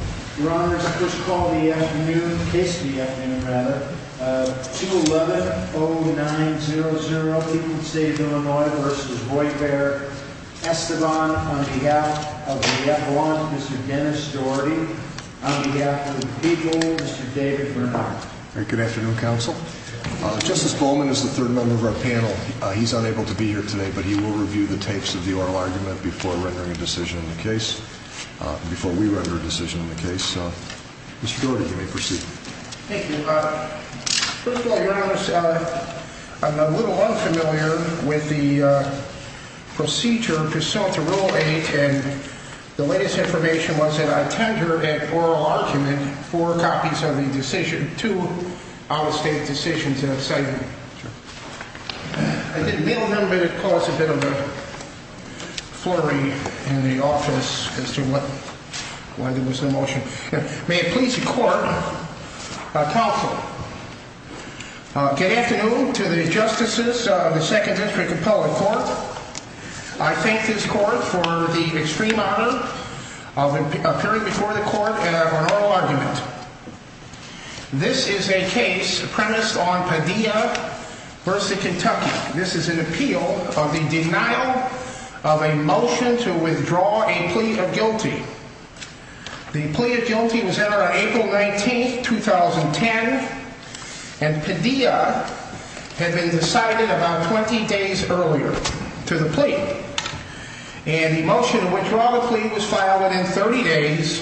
on behalf of the F1, Mr. Dennis Doherty, on behalf of the people, Mr. David Bernhardt. Very good afternoon, counsel. Justice Bowman is the third member of our panel. He's unable to be here today, but he will review the tapes of the oral argument before rendering a decision in the case, so Mr. Doherty, you may proceed. Thank you. First of all, Your Honor, I'm a little unfamiliar with the procedure pursuant to Rule 8, and the latest information was that I tendered an oral argument for copies of the decision, two out-of-state decisions that I've cited. I didn't mean to cause a bit of a flurry in the office as to why there was no motion. May it please the Court, counsel, good afternoon to the justices of the Second District Appellate Court. I thank this Court for the extreme honor of appearing before the Court in an oral argument. This is a case premised on Padilla v. Kentucky. This is an appeal of the denial of a motion to withdraw a plea of guilty. The plea of guilty was entered on April 19, 2010, and Padilla had been decided about 20 days earlier to the plea, and the motion to withdraw the plea was filed within 30 days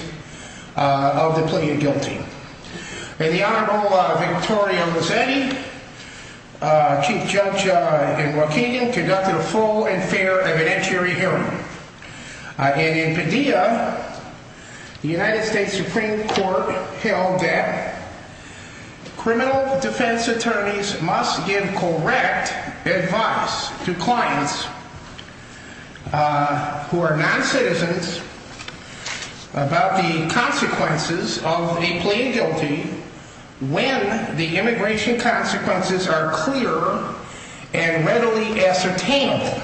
of the plea of guilty. And the Honorable Victoria Rossetti, Chief Judge in Waukegan, conducted a full and fair evidentiary hearing. And in Padilla, the United States Supreme Court held that criminal defense attorneys must give correct advice to clients who are non-citizens about the consequences of a plea of guilty. And that the plaintiff must remain guilty when the immigration consequences are clear and readily ascertainable.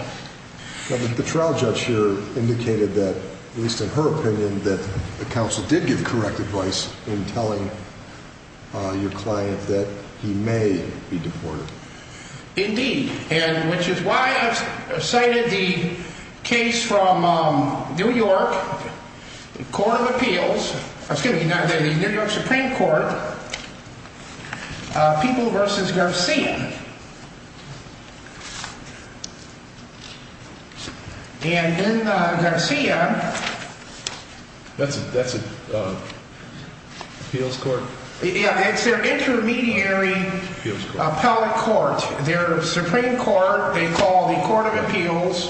The trial judge here indicated that, at least in her opinion, that the counsel did give correct advice in telling your client that he may be deported. Indeed. And which is why I've cited the case from New York, the New York Supreme Court, People v. Garcia. And in Garcia... That's an appeals court? Yeah, it's their intermediary appellate court. Their Supreme Court, they call the Court of Appeals,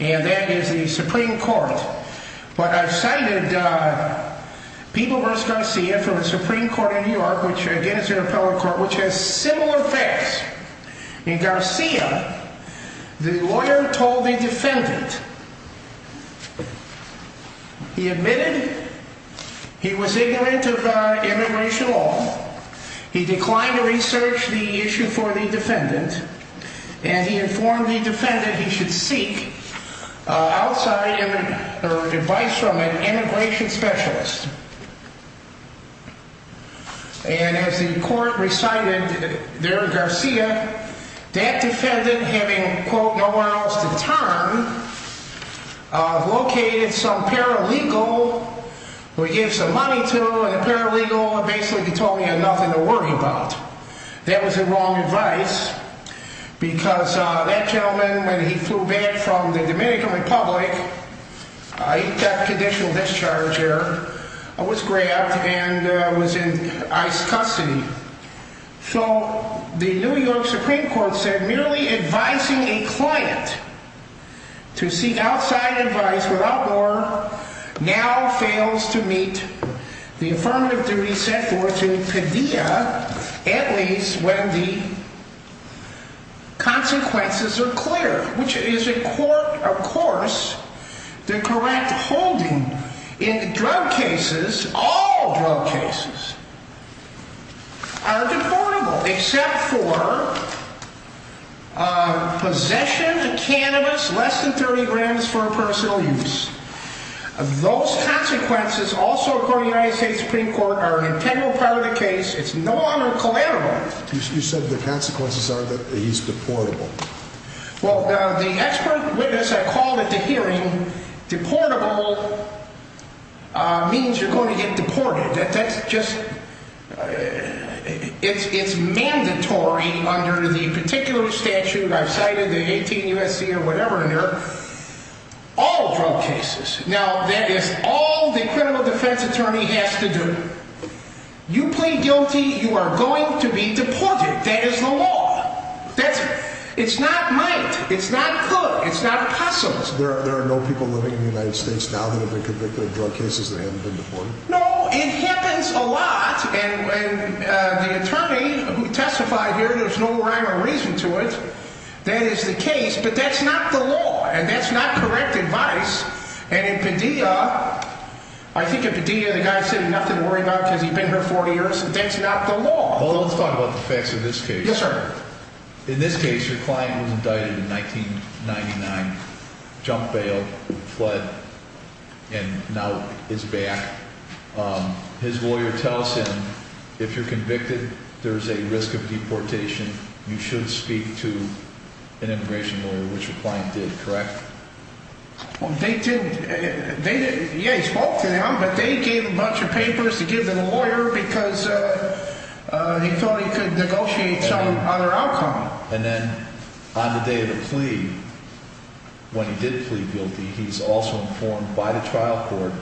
and that is the Supreme Court. But I've cited People v. Garcia from the Supreme Court of New York, which again is their appellate court, which has similar facts. In Garcia, the lawyer told the defendant he admitted he was ignorant of immigration law. He declined to research the issue for the defendant, and he informed the defendant he should seek outside advice from an immigration specialist. And as the court recited there in Garcia, that defendant having, quote, nowhere else to turn, located some paralegal who he gave some money to, and the paralegal basically told him he had nothing to worry about. That was the wrong advice, because that gentleman, when he flew back from the Dominican Republic, he got conditional discharge there, was grabbed, and was in ICE custody. So the New York Supreme Court said merely advising a client to seek outside advice without order now fails to meet the affirmative duty set forth in Padilla, at least when the consequences are clear. Which is, of course, the correct holding. In drug cases, all drug cases are deportable, except for possession of cannabis less than 30 grams for personal use. Those consequences also, according to the United States Supreme Court, are an integral part of the case. It's no longer collateral. You said the consequences are that he's deportable. That is the law. It's not might. It's not could. It's not possible. There are no people living in the United States now that have been convicted of drug cases that haven't been deported? No, it happens a lot. And the attorney who testified here, there's no rhyme or reason to it. That is the case. But that's not the law. And that's not correct advice. And in Padilla, I think in Padilla, the guy said he had nothing to worry about because he'd been here 40 years. That's not the law. Well, let's talk about the facts of this case. In this case, your client was indicted in 1999, jumped bail, fled, and now is back. His lawyer tells him if you're convicted, there's a risk of deportation. You should speak to an immigration lawyer, which your client did, correct? Yeah, he spoke to them, but they gave him a bunch of papers to give to the lawyer because he thought he could negotiate some other outcome. And then on the day of the plea, when he did plead guilty, he's also informed by the trial court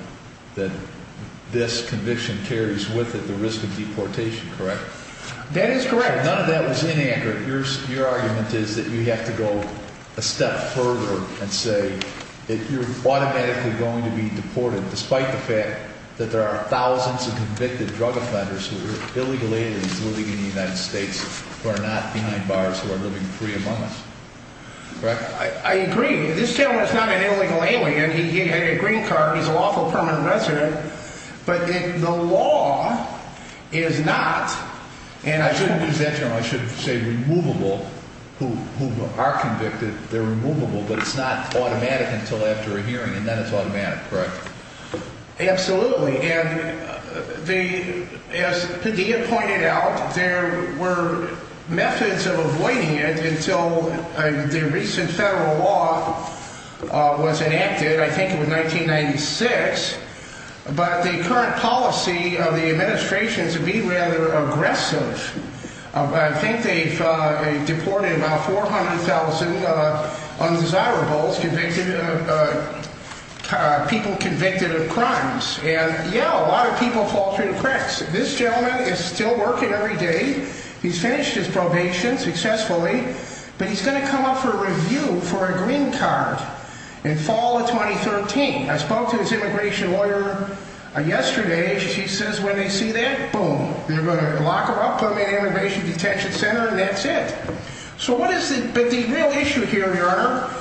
that this conviction carries with it the risk of deportation, correct? That is correct. None of that was inaccurate. Your argument is that you have to go a step further and say that you're automatically going to be deported despite the fact that there are thousands of convicted drug offenders who are illegal aliens living in the United States who are not behind bars who are living free among us, correct? I agree. This gentleman is not an illegal alien. He had a green card. He's a lawful permanent resident. But the law is not, and I shouldn't use that term, I should say removable, who are convicted, they're removable, but it's not automatic until after a hearing, and then it's automatic, correct? Absolutely. And as Padilla pointed out, there were methods of avoiding it until the recent federal law was enacted, I think it was 1996, but the current policy of the administration is to be rather aggressive. I think they've deported about 400,000 undesirables, people convicted of crimes. And yeah, a lot of people fall through the cracks. This gentleman is still working every day. He's finished his probation successfully, but he's going to come up for a review for a green card in fall of 2013. I spoke to his immigration lawyer yesterday. She says when they see that, boom, they're going to lock him up, put him in the immigration detention center, and that's it. But the real issue here, Your Honor,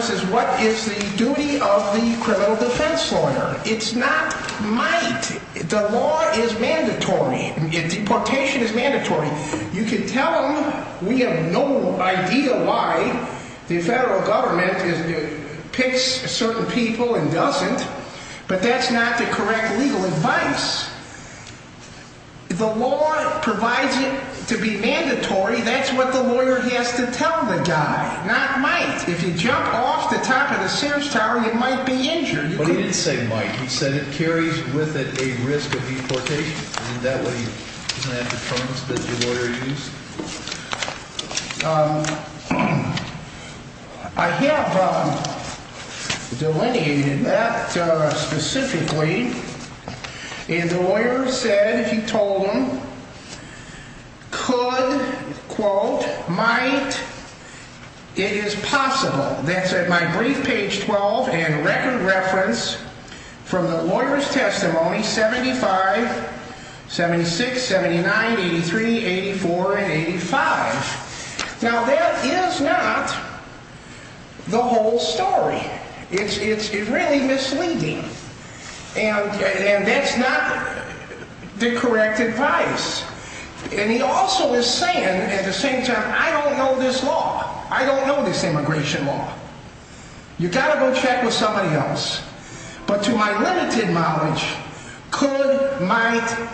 is what is the duty of the criminal defense lawyer? It's not might. The law is mandatory. Deportation is mandatory. You can tell them, we have no idea why the federal government picks certain people and doesn't, but that's not the correct legal advice. The law provides it to be mandatory. That's what the lawyer has to tell the guy, not might. If you jump off the top of the search tower, you might be injured. But he didn't say might. He said it carries with it a risk of deportation. Isn't that what he, isn't that the terms that the lawyer used? Now, that is not the whole story. It's really misleading. And that's not the correct advice. And he also is saying at the same time, I don't know this law. I don't know this immigration law. You gotta go check with somebody else. But to my limited knowledge, could, might,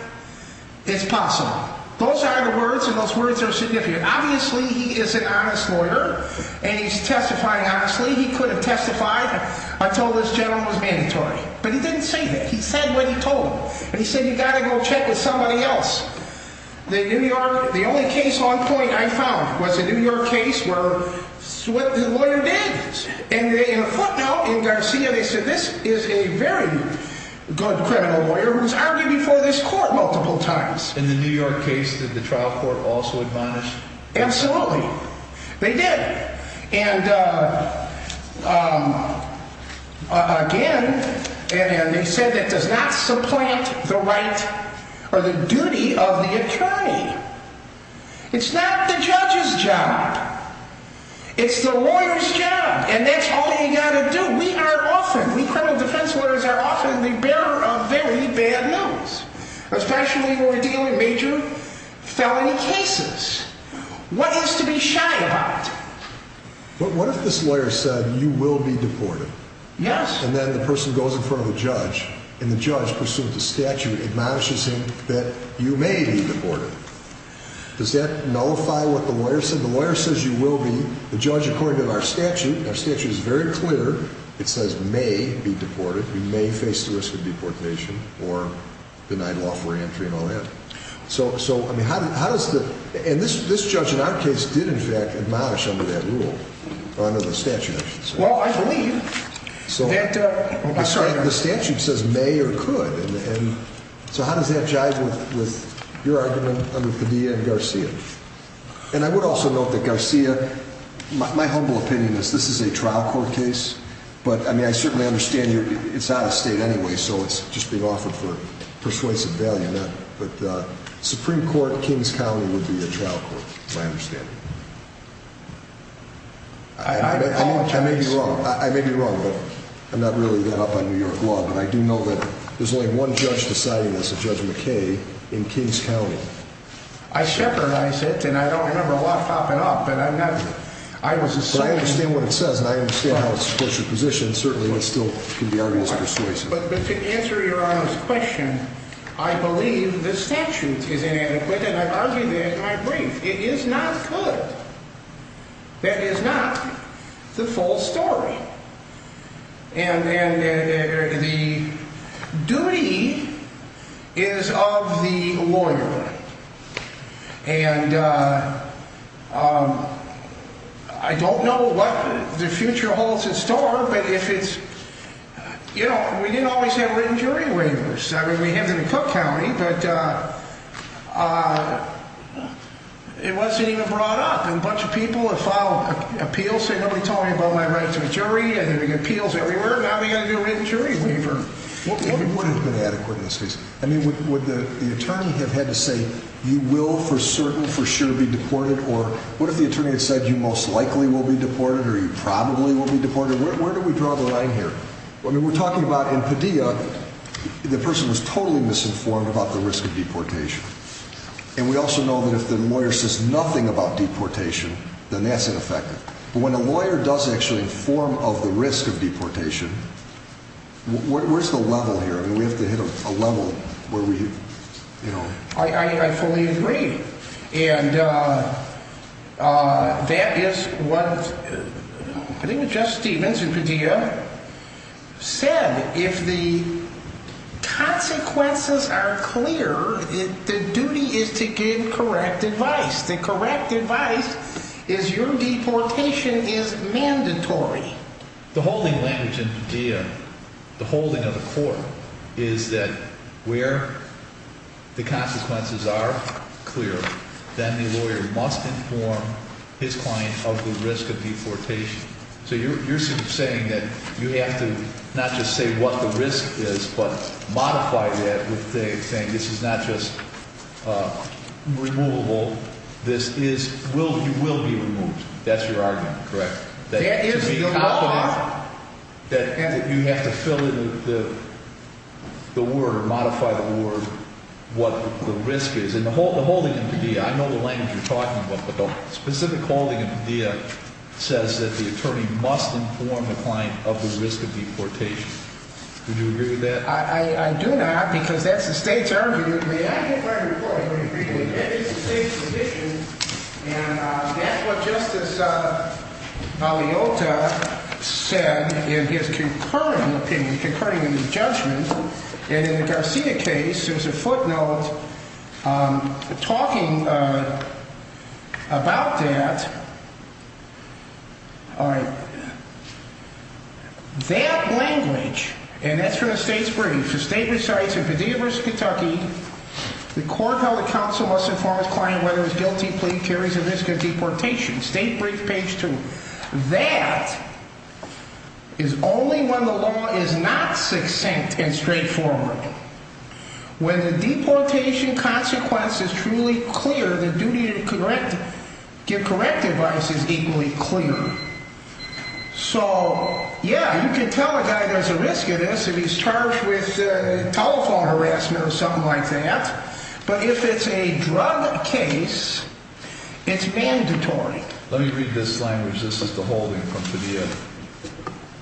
it's possible. Those are the words, and those words are significant. Obviously, he is an honest lawyer, and he's testifying honestly. He could have testified until this gentleman was mandatory. But he didn't say that. He said what he told him. And he said, you gotta go check with somebody else. The New York, the only case on point I found was a New York case where the lawyer did. And they in a footnote in Garcia, they said, this is a very good criminal lawyer who's argued before this court multiple times. In the New York case, did the trial court also admonish? Absolutely. They did. And again, they said that does not supplant the right or the duty of the attorney. It's not the judge's job. It's the lawyer's job. And that's all you gotta do. And we are often, we criminal defense lawyers are often the bearer of very bad news, especially when we're dealing with major felony cases. What is to be shy about? But what if this lawyer said you will be deported? Yes. And then the person goes in front of the judge and the judge pursuant to statute admonishes him that you may be deported. Does that nullify what the lawyer said? The lawyer says you will be. The judge, according to our statute, our statute is very clear. It says may be deported. You may face the risk of deportation or denied lawful entry and all that. So how does this judge in our case did in fact admonish under that rule under the statute? Well, I believe that the statute says may or could. And so how does that jive with your argument under Padilla and Garcia? And I would also note that Garcia, my humble opinion is this is a trial court case, but I mean, I certainly understand you. It's not a state anyway, so it's just being offered for persuasive value. But the Supreme Court, Kings County would be a trial court. I understand. I may be wrong. I may be wrong, but I'm not really that up on New York law. But I do know that there's only one judge deciding this is Judge McKay in Kings County. I separate. I sit and I don't remember a lot popping up, but I'm not. I understand what it says, and I understand how it's supposed to position. Certainly, it still can be persuasive. But to answer your honest question, I believe the statute is inadequate, and I argue that in my brief. It is not good. That is not the full story. And the duty is of the lawyer. And I don't know what the future holds in store, but if it's, you know, we didn't always have written jury waivers. I mean, we have them in Cook County, but it wasn't even brought up. And a bunch of people have filed appeals saying nobody told me about my right to a jury, and there were appeals everywhere. Now we've got to do a written jury waiver. It would have been adequate in this case. I mean, would the attorney have had to say you will for certain for sure be deported? Or what if the attorney had said you most likely will be deported or you probably will be deported? Where do we draw the line here? I mean, we're talking about in Padilla, the person was totally misinformed about the risk of deportation. And we also know that if the lawyer says nothing about deportation, then that's ineffective. But when a lawyer does actually inform of the risk of deportation, where's the level here? I mean, we have to hit a level where we, you know. I fully agree. And that is what Justice Stevens in Padilla said. If the consequences are clear, the duty is to give correct advice. The correct advice is your deportation is mandatory. The holding language in Padilla, the holding of the court, is that where the consequences are clear, then the lawyer must inform his client of the risk of deportation. So you're saying that you have to not just say what the risk is, but modify that with saying this is not just removable. This is, you will be removed. That's your argument, correct? That is the law. That you have to fill in the word or modify the word what the risk is. And the holding in Padilla, I know the language you're talking about, but the specific holding in Padilla says that the attorney must inform the client of the risk of deportation. Would you agree with that? I do not, because that's the state's argument. But I think my report would agree with that. That is the state's position. And that's what Justice Maliotta said in his concurring opinion, concurring in his judgment. And in the Garcia case, there's a footnote talking about that. That language, and that's from the state's brief, the state recites in Padilla v. Kentucky, the court held the counsel must inform his client whether his guilty plea carries a risk of deportation. State brief, page 2. That is only when the law is not succinct and straightforward. When the deportation consequence is truly clear, the duty to give correct advice is equally clear. So, yeah, you can tell a guy there's a risk of this if he's charged with telephone harassment or something like that. But if it's a drug case, it's mandatory. Let me read this language. This is the holding from Padilla.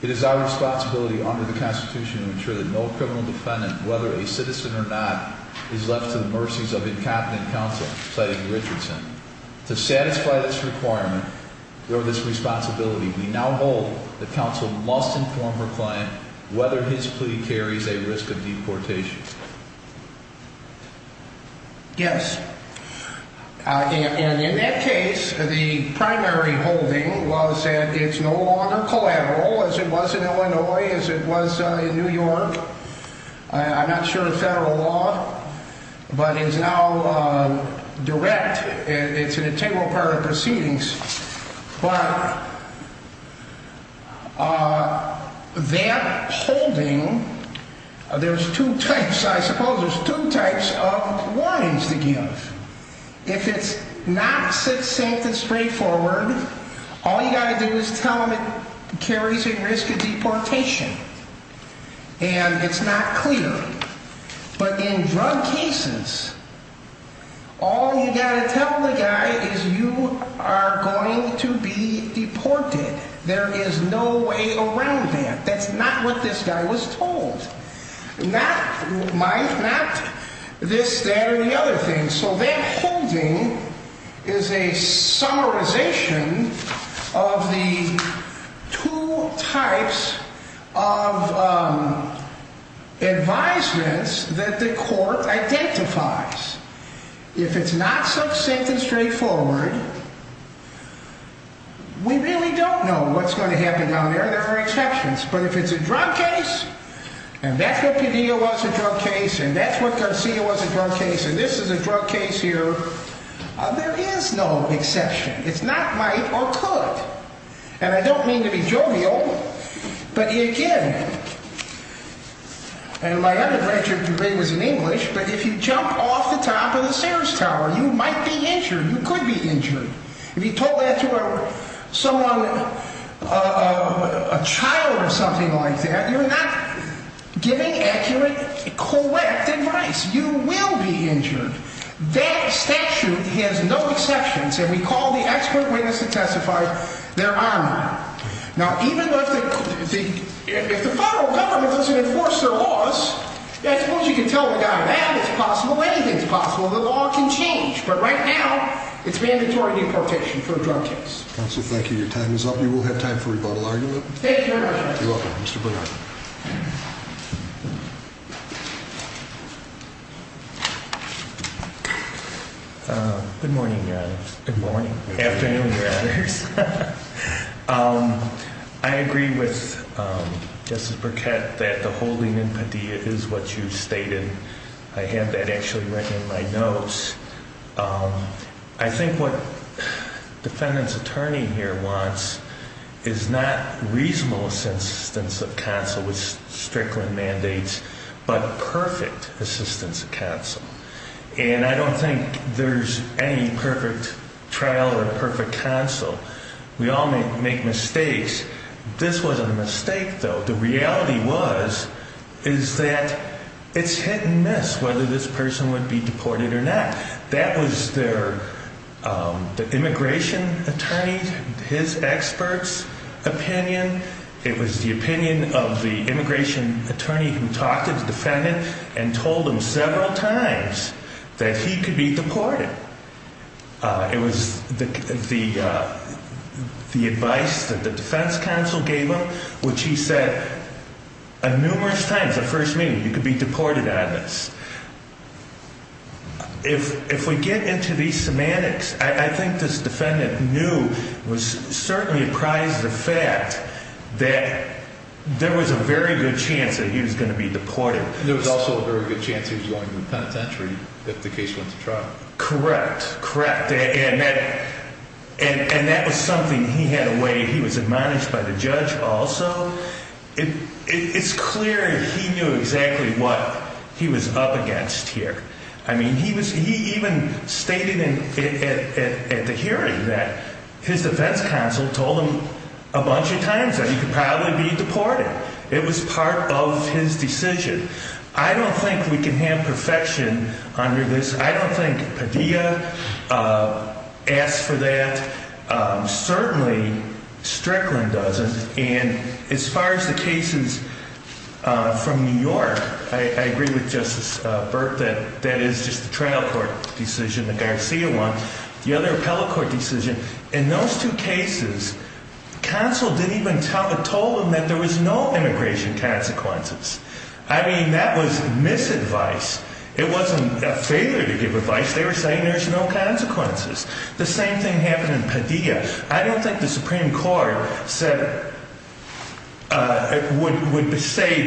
It is our responsibility under the Constitution to ensure that no criminal defendant, whether a citizen or not, is left to the mercies of incapable counsel, citing Richardson. To satisfy this requirement or this responsibility, we now hold that counsel must inform her client whether his plea carries a risk of deportation. Yes. And in that case, the primary holding was that it's no longer collateral, as it was in Illinois, as it was in New York. I'm not sure of federal law, but it's now direct. It's an integral part of proceedings. But that holding, there's two types, I suppose. There's two types of warnings to give. If it's not succinct and straightforward, all you've got to do is tell them it carries a risk of deportation. And it's not clear. But in drug cases, all you've got to tell the guy is you are going to be deported. There is no way around that. That's not what this guy was told. So that holding is a summarization of the two types of advisements that the court identifies. If it's not succinct and straightforward, we really don't know what's going to happen. But if it's a drug case, and that's what Padilla was a drug case, and that's what Garcia was a drug case, and this is a drug case here, there is no exception. It's not might or could. And I don't mean to be jovial, but again, and my undergraduate degree was in English, but if you jump off the top of the Sears Tower, you might be injured, you could be injured. If you told that to someone, a child or something like that, you're not giving accurate, correct advice. You will be injured. That statute has no exceptions, and we call the expert witness that testified their honor. Now, even if the federal government doesn't enforce their laws, I suppose you can tell the guy that it's possible, anything's possible, the law can change. But right now, it's mandatory deportation for a drug case. Counsel, thank you. Your time is up. You will have time for rebuttal argument. Thank you very much. You're welcome. Mr. Burnett. Good morning, your honor. Good morning. Afternoon, your honors. I agree with Justice Burkett that the holding in Padilla is what you stated. I have that actually written in my notes. I think what defendant's attorney here wants is not reasonable assistance of counsel with stricter mandates, but perfect assistance of counsel. And I don't think there's any perfect trial or perfect counsel. We all make mistakes. This was a mistake, though. The reality was, is that it's hit and miss whether this person would be deported or not. That was their, the immigration attorney, his expert's opinion. It was the opinion of the immigration attorney who talked to the defendant and told him several times that he could be deported. It was the advice that the defense counsel gave him, which he said numerous times at first meeting, you could be deported on this. If we get into these semantics, I think this defendant knew, was certainly apprised of the fact that there was a very good chance that he was going to be deported. There was also a very good chance he was going to the penitentiary if the case went to trial. Correct. Correct. And that was something he had a way. He was admonished by the judge also. It's clear he knew exactly what he was up against here. I mean, he even stated at the hearing that his defense counsel told him a bunch of times that he could probably be deported. It was part of his decision. I don't think we can have perfection under this. I don't think Padilla asked for that. Certainly Strickland doesn't. And as far as the cases from New York, I agree with Justice Burt that that is just the trial court decision, the Garcia one, the other appellate court decision. In those two cases, counsel didn't even tell him that there was no immigration consequences. I mean, that was misadvice. It wasn't a failure to give advice. They were saying there's no consequences. The same thing happened in Padilla. I don't think the Supreme Court would say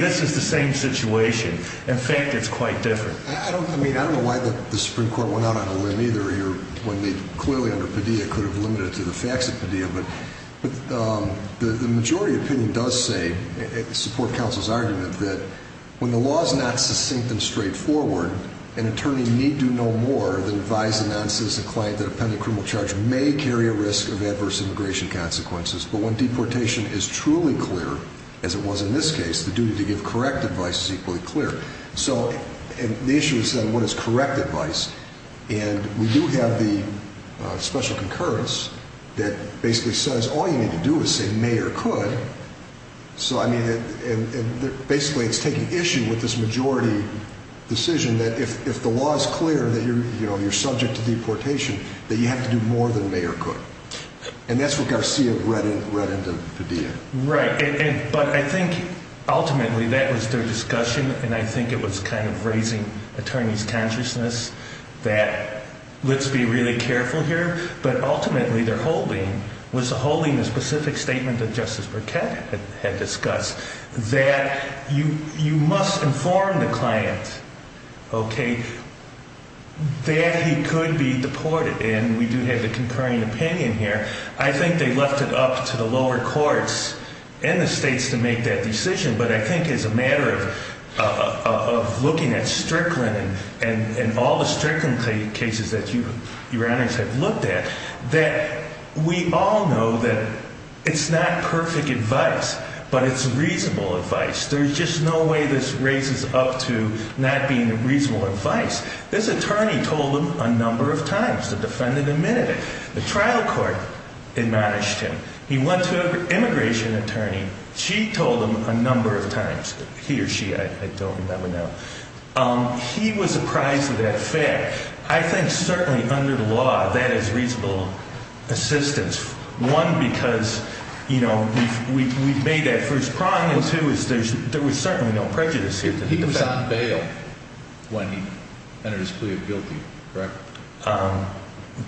this is the same situation. In fact, it's quite different. I don't know why the Supreme Court went out on a limb either here when they clearly under Padilla could have limited it to the facts of Padilla. But the majority opinion does say, support counsel's argument, that when the law is not succinct and straightforward, an attorney need do no more than advise a non-citizen client that a pending criminal charge may carry a risk of adverse immigration consequences. But when deportation is truly clear, as it was in this case, the duty to give correct advice is equally clear. So the issue is what is correct advice? And we do have the special concurrence that basically says all you need to do is say may or could. So I mean, basically it's taking issue with this majority decision that if the law is clear that you're subject to deportation, that you have to do more than may or could. And that's what Garcia read into Padilla. Right. But I think ultimately that was their discussion. And I think it was kind of raising attorney's consciousness that let's be really careful here. But ultimately, their holding was holding a specific statement that Justice Burkett had discussed that you must inform the client, OK, that he could be deported. And we do have the concurring opinion here. I think they left it up to the lower courts and the states to make that decision. But I think as a matter of looking at Strickland and all the Strickland cases that you, Your Honors, have looked at, that we all know that it's not perfect advice, but it's reasonable advice. There's just no way this raises up to not being reasonable advice. This attorney told him a number of times. The defendant admitted it. The trial court admonished him. He went to an immigration attorney. She told him a number of times. He or she, I don't know. He was apprised of that fact. I think certainly under the law, that is reasonable assistance. One, because, you know, we've made that first prong. And two, there was certainly no prejudice here. He was on bail when he entered his plea of guilty, correct? I'm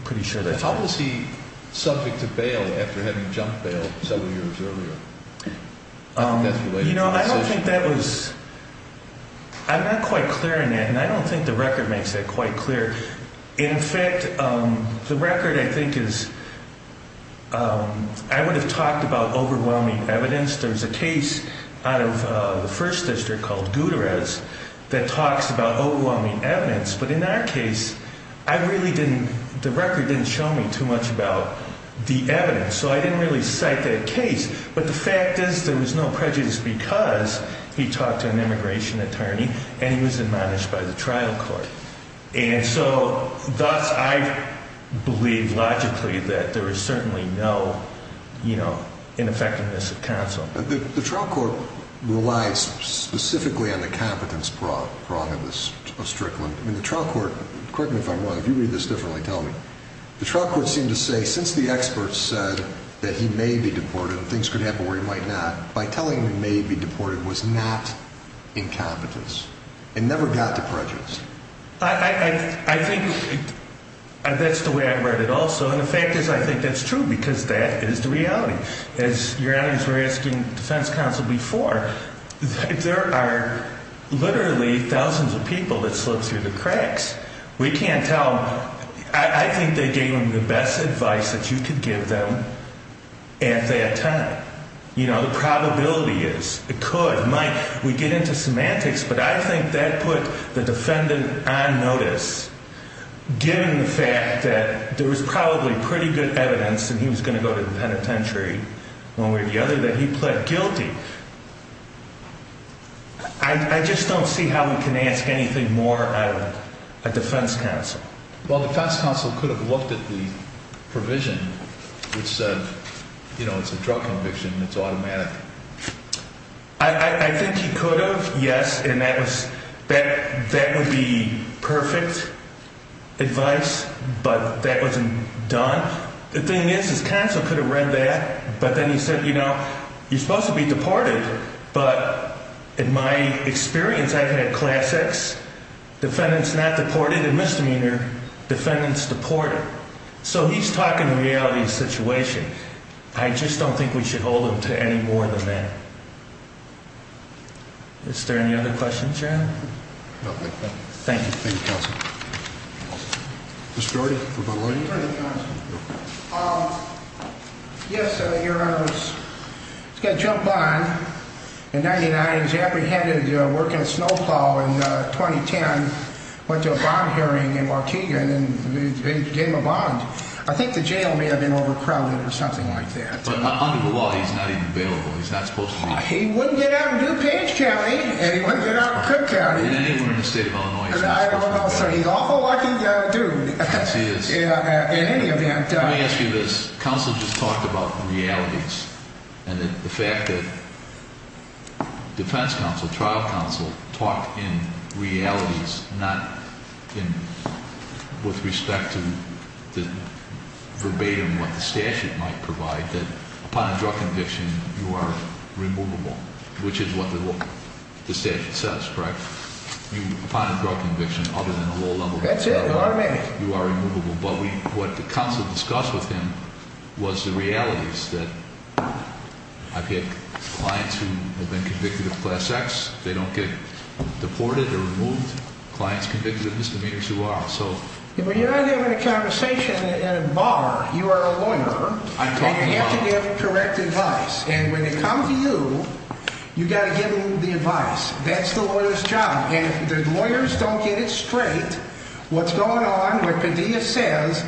pretty sure that's correct. How was he subject to bail after having jumped bail several years earlier? I think that's related to the decision. You know, I don't think that was, I'm not quite clear on that, and I don't think the record makes that quite clear. In fact, the record I think is, I would have talked about overwhelming evidence. There's a case out of the First District called Gutierrez that talks about overwhelming evidence. But in that case, I really didn't, the record didn't show me too much about the evidence. So I didn't really cite that case. But the fact is, there was no prejudice because he talked to an immigration attorney and he was admonished by the trial court. And so, thus, I believe logically that there was certainly no, you know, ineffectiveness of counsel. The trial court relies specifically on the competence prong of Strickland. I mean, the trial court, correct me if I'm wrong, if you read this differently, tell me. The trial court seemed to say since the expert said that he may be deported and things could happen where he might not, by telling him he may be deported was not incompetence. It never got to prejudice. I think that's the way I read it also. And the fact is, I think that's true because that is the reality. As your allies were asking defense counsel before, there are literally thousands of people that slipped through the cracks. We can't tell. I think they gave him the best advice that you could give them at that time. You know, the probability is it could, might. We get into semantics, but I think that put the defendant on notice, given the fact that there was probably pretty good evidence and he was going to go to the penitentiary one way or the other, that he pled guilty. I just don't see how we can ask anything more out of a defense counsel. Well, the defense counsel could have looked at the provision, which said, you know, it's a drug conviction. It's automatic. I think he could have. Yes. And that was that. That would be perfect advice. But that wasn't done. The thing is, his counsel could have read that. But then he said, you know, you're supposed to be deported. But in my experience, I've had classics defendants not deported and misdemeanor defendants deported. So he's talking reality situation. I just don't think we should hold him to any more than that. Is there any other questions? Thank you. Yes, your honor. He's got to jump on. In 99, he's apprehended working a snowplow in 2010. Went to a bond hearing in Waukegan and they gave him a bond. I think the jail may have been overcrowded or something like that. But under the law, he's not even available. He's not supposed to be. He wouldn't get out of New Page County. He wouldn't get out of Cook County. And anywhere in the state of Illinois. I don't know, sir. He's awful lucky to do. Yes, he is. In any event. Let me ask you this. Counsel just talked about realities and the fact that defense counsel, trial counsel talked in realities, not in with respect to the verbatim, what the statute might provide that upon a drug conviction, you are removable, which is what the statute says, correct? You find a drug conviction other than a low level. That's it. Automatic. You are removable. But what the counsel discussed with him was the realities that I've had clients who have been convicted of class X. They don't get deported or removed. Clients convicted of misdemeanors who are. So you're not having a conversation in a bar. You are a lawyer. I have to give correct advice. And when it comes to you, you've got to give the advice. That's the lawyer's job. And the lawyers don't get it straight. What's going on with the deal says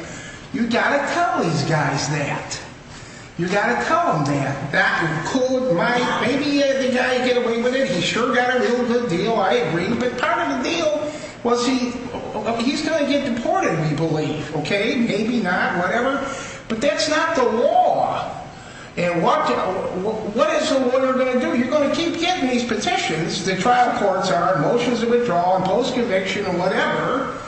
you've got to tell these guys that you've got to tell them that that could might maybe the guy get away with it. He sure got a real good deal. I agree. But part of the deal was he he's going to get deported. OK, maybe not, whatever. But that's not the law. And what what is the water going to do? You're going to keep getting these petitions. The trial courts are motions of withdrawal and post conviction or whatever.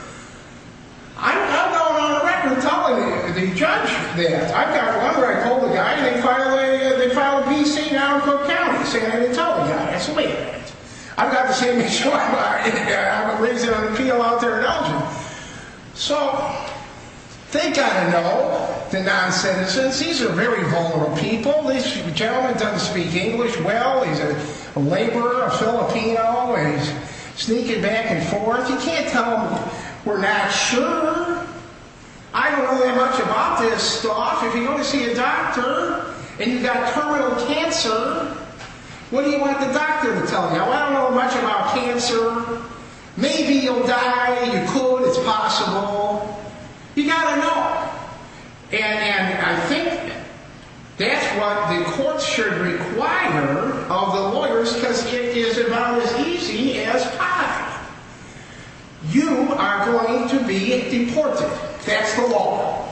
I'm going on a record telling the judge that I've got one where I call the guy and they file a they file a PC down in Cook County saying they didn't tell the guy. That's weird. I've got the same issue. I'm raising an appeal out there in Elgin. So they got to know the non-citizens. These are very vulnerable people. This gentleman doesn't speak English well. He's a laborer, a Filipino, and he's sneaking back and forth. You can't tell them we're not sure. I don't know that much about this stuff. If you go to see a doctor and you've got terminal cancer, what do you want the doctor to tell you? I don't know much about cancer. Maybe you'll die. You could. It's possible. You got to know. And I think that's what the courts should require of the lawyers, because it is about as easy as pie. You are going to be deported. That's the law.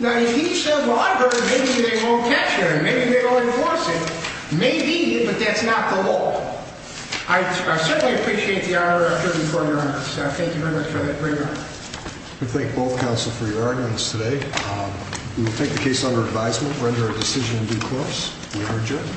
Now, if he says, well, I heard maybe they won't catch her and maybe they won't enforce it. Maybe, but that's not the law. I certainly appreciate the honor. Thank you very much for your arguments today. We will take the case under advisement, render a decision in due course. We are adjourned.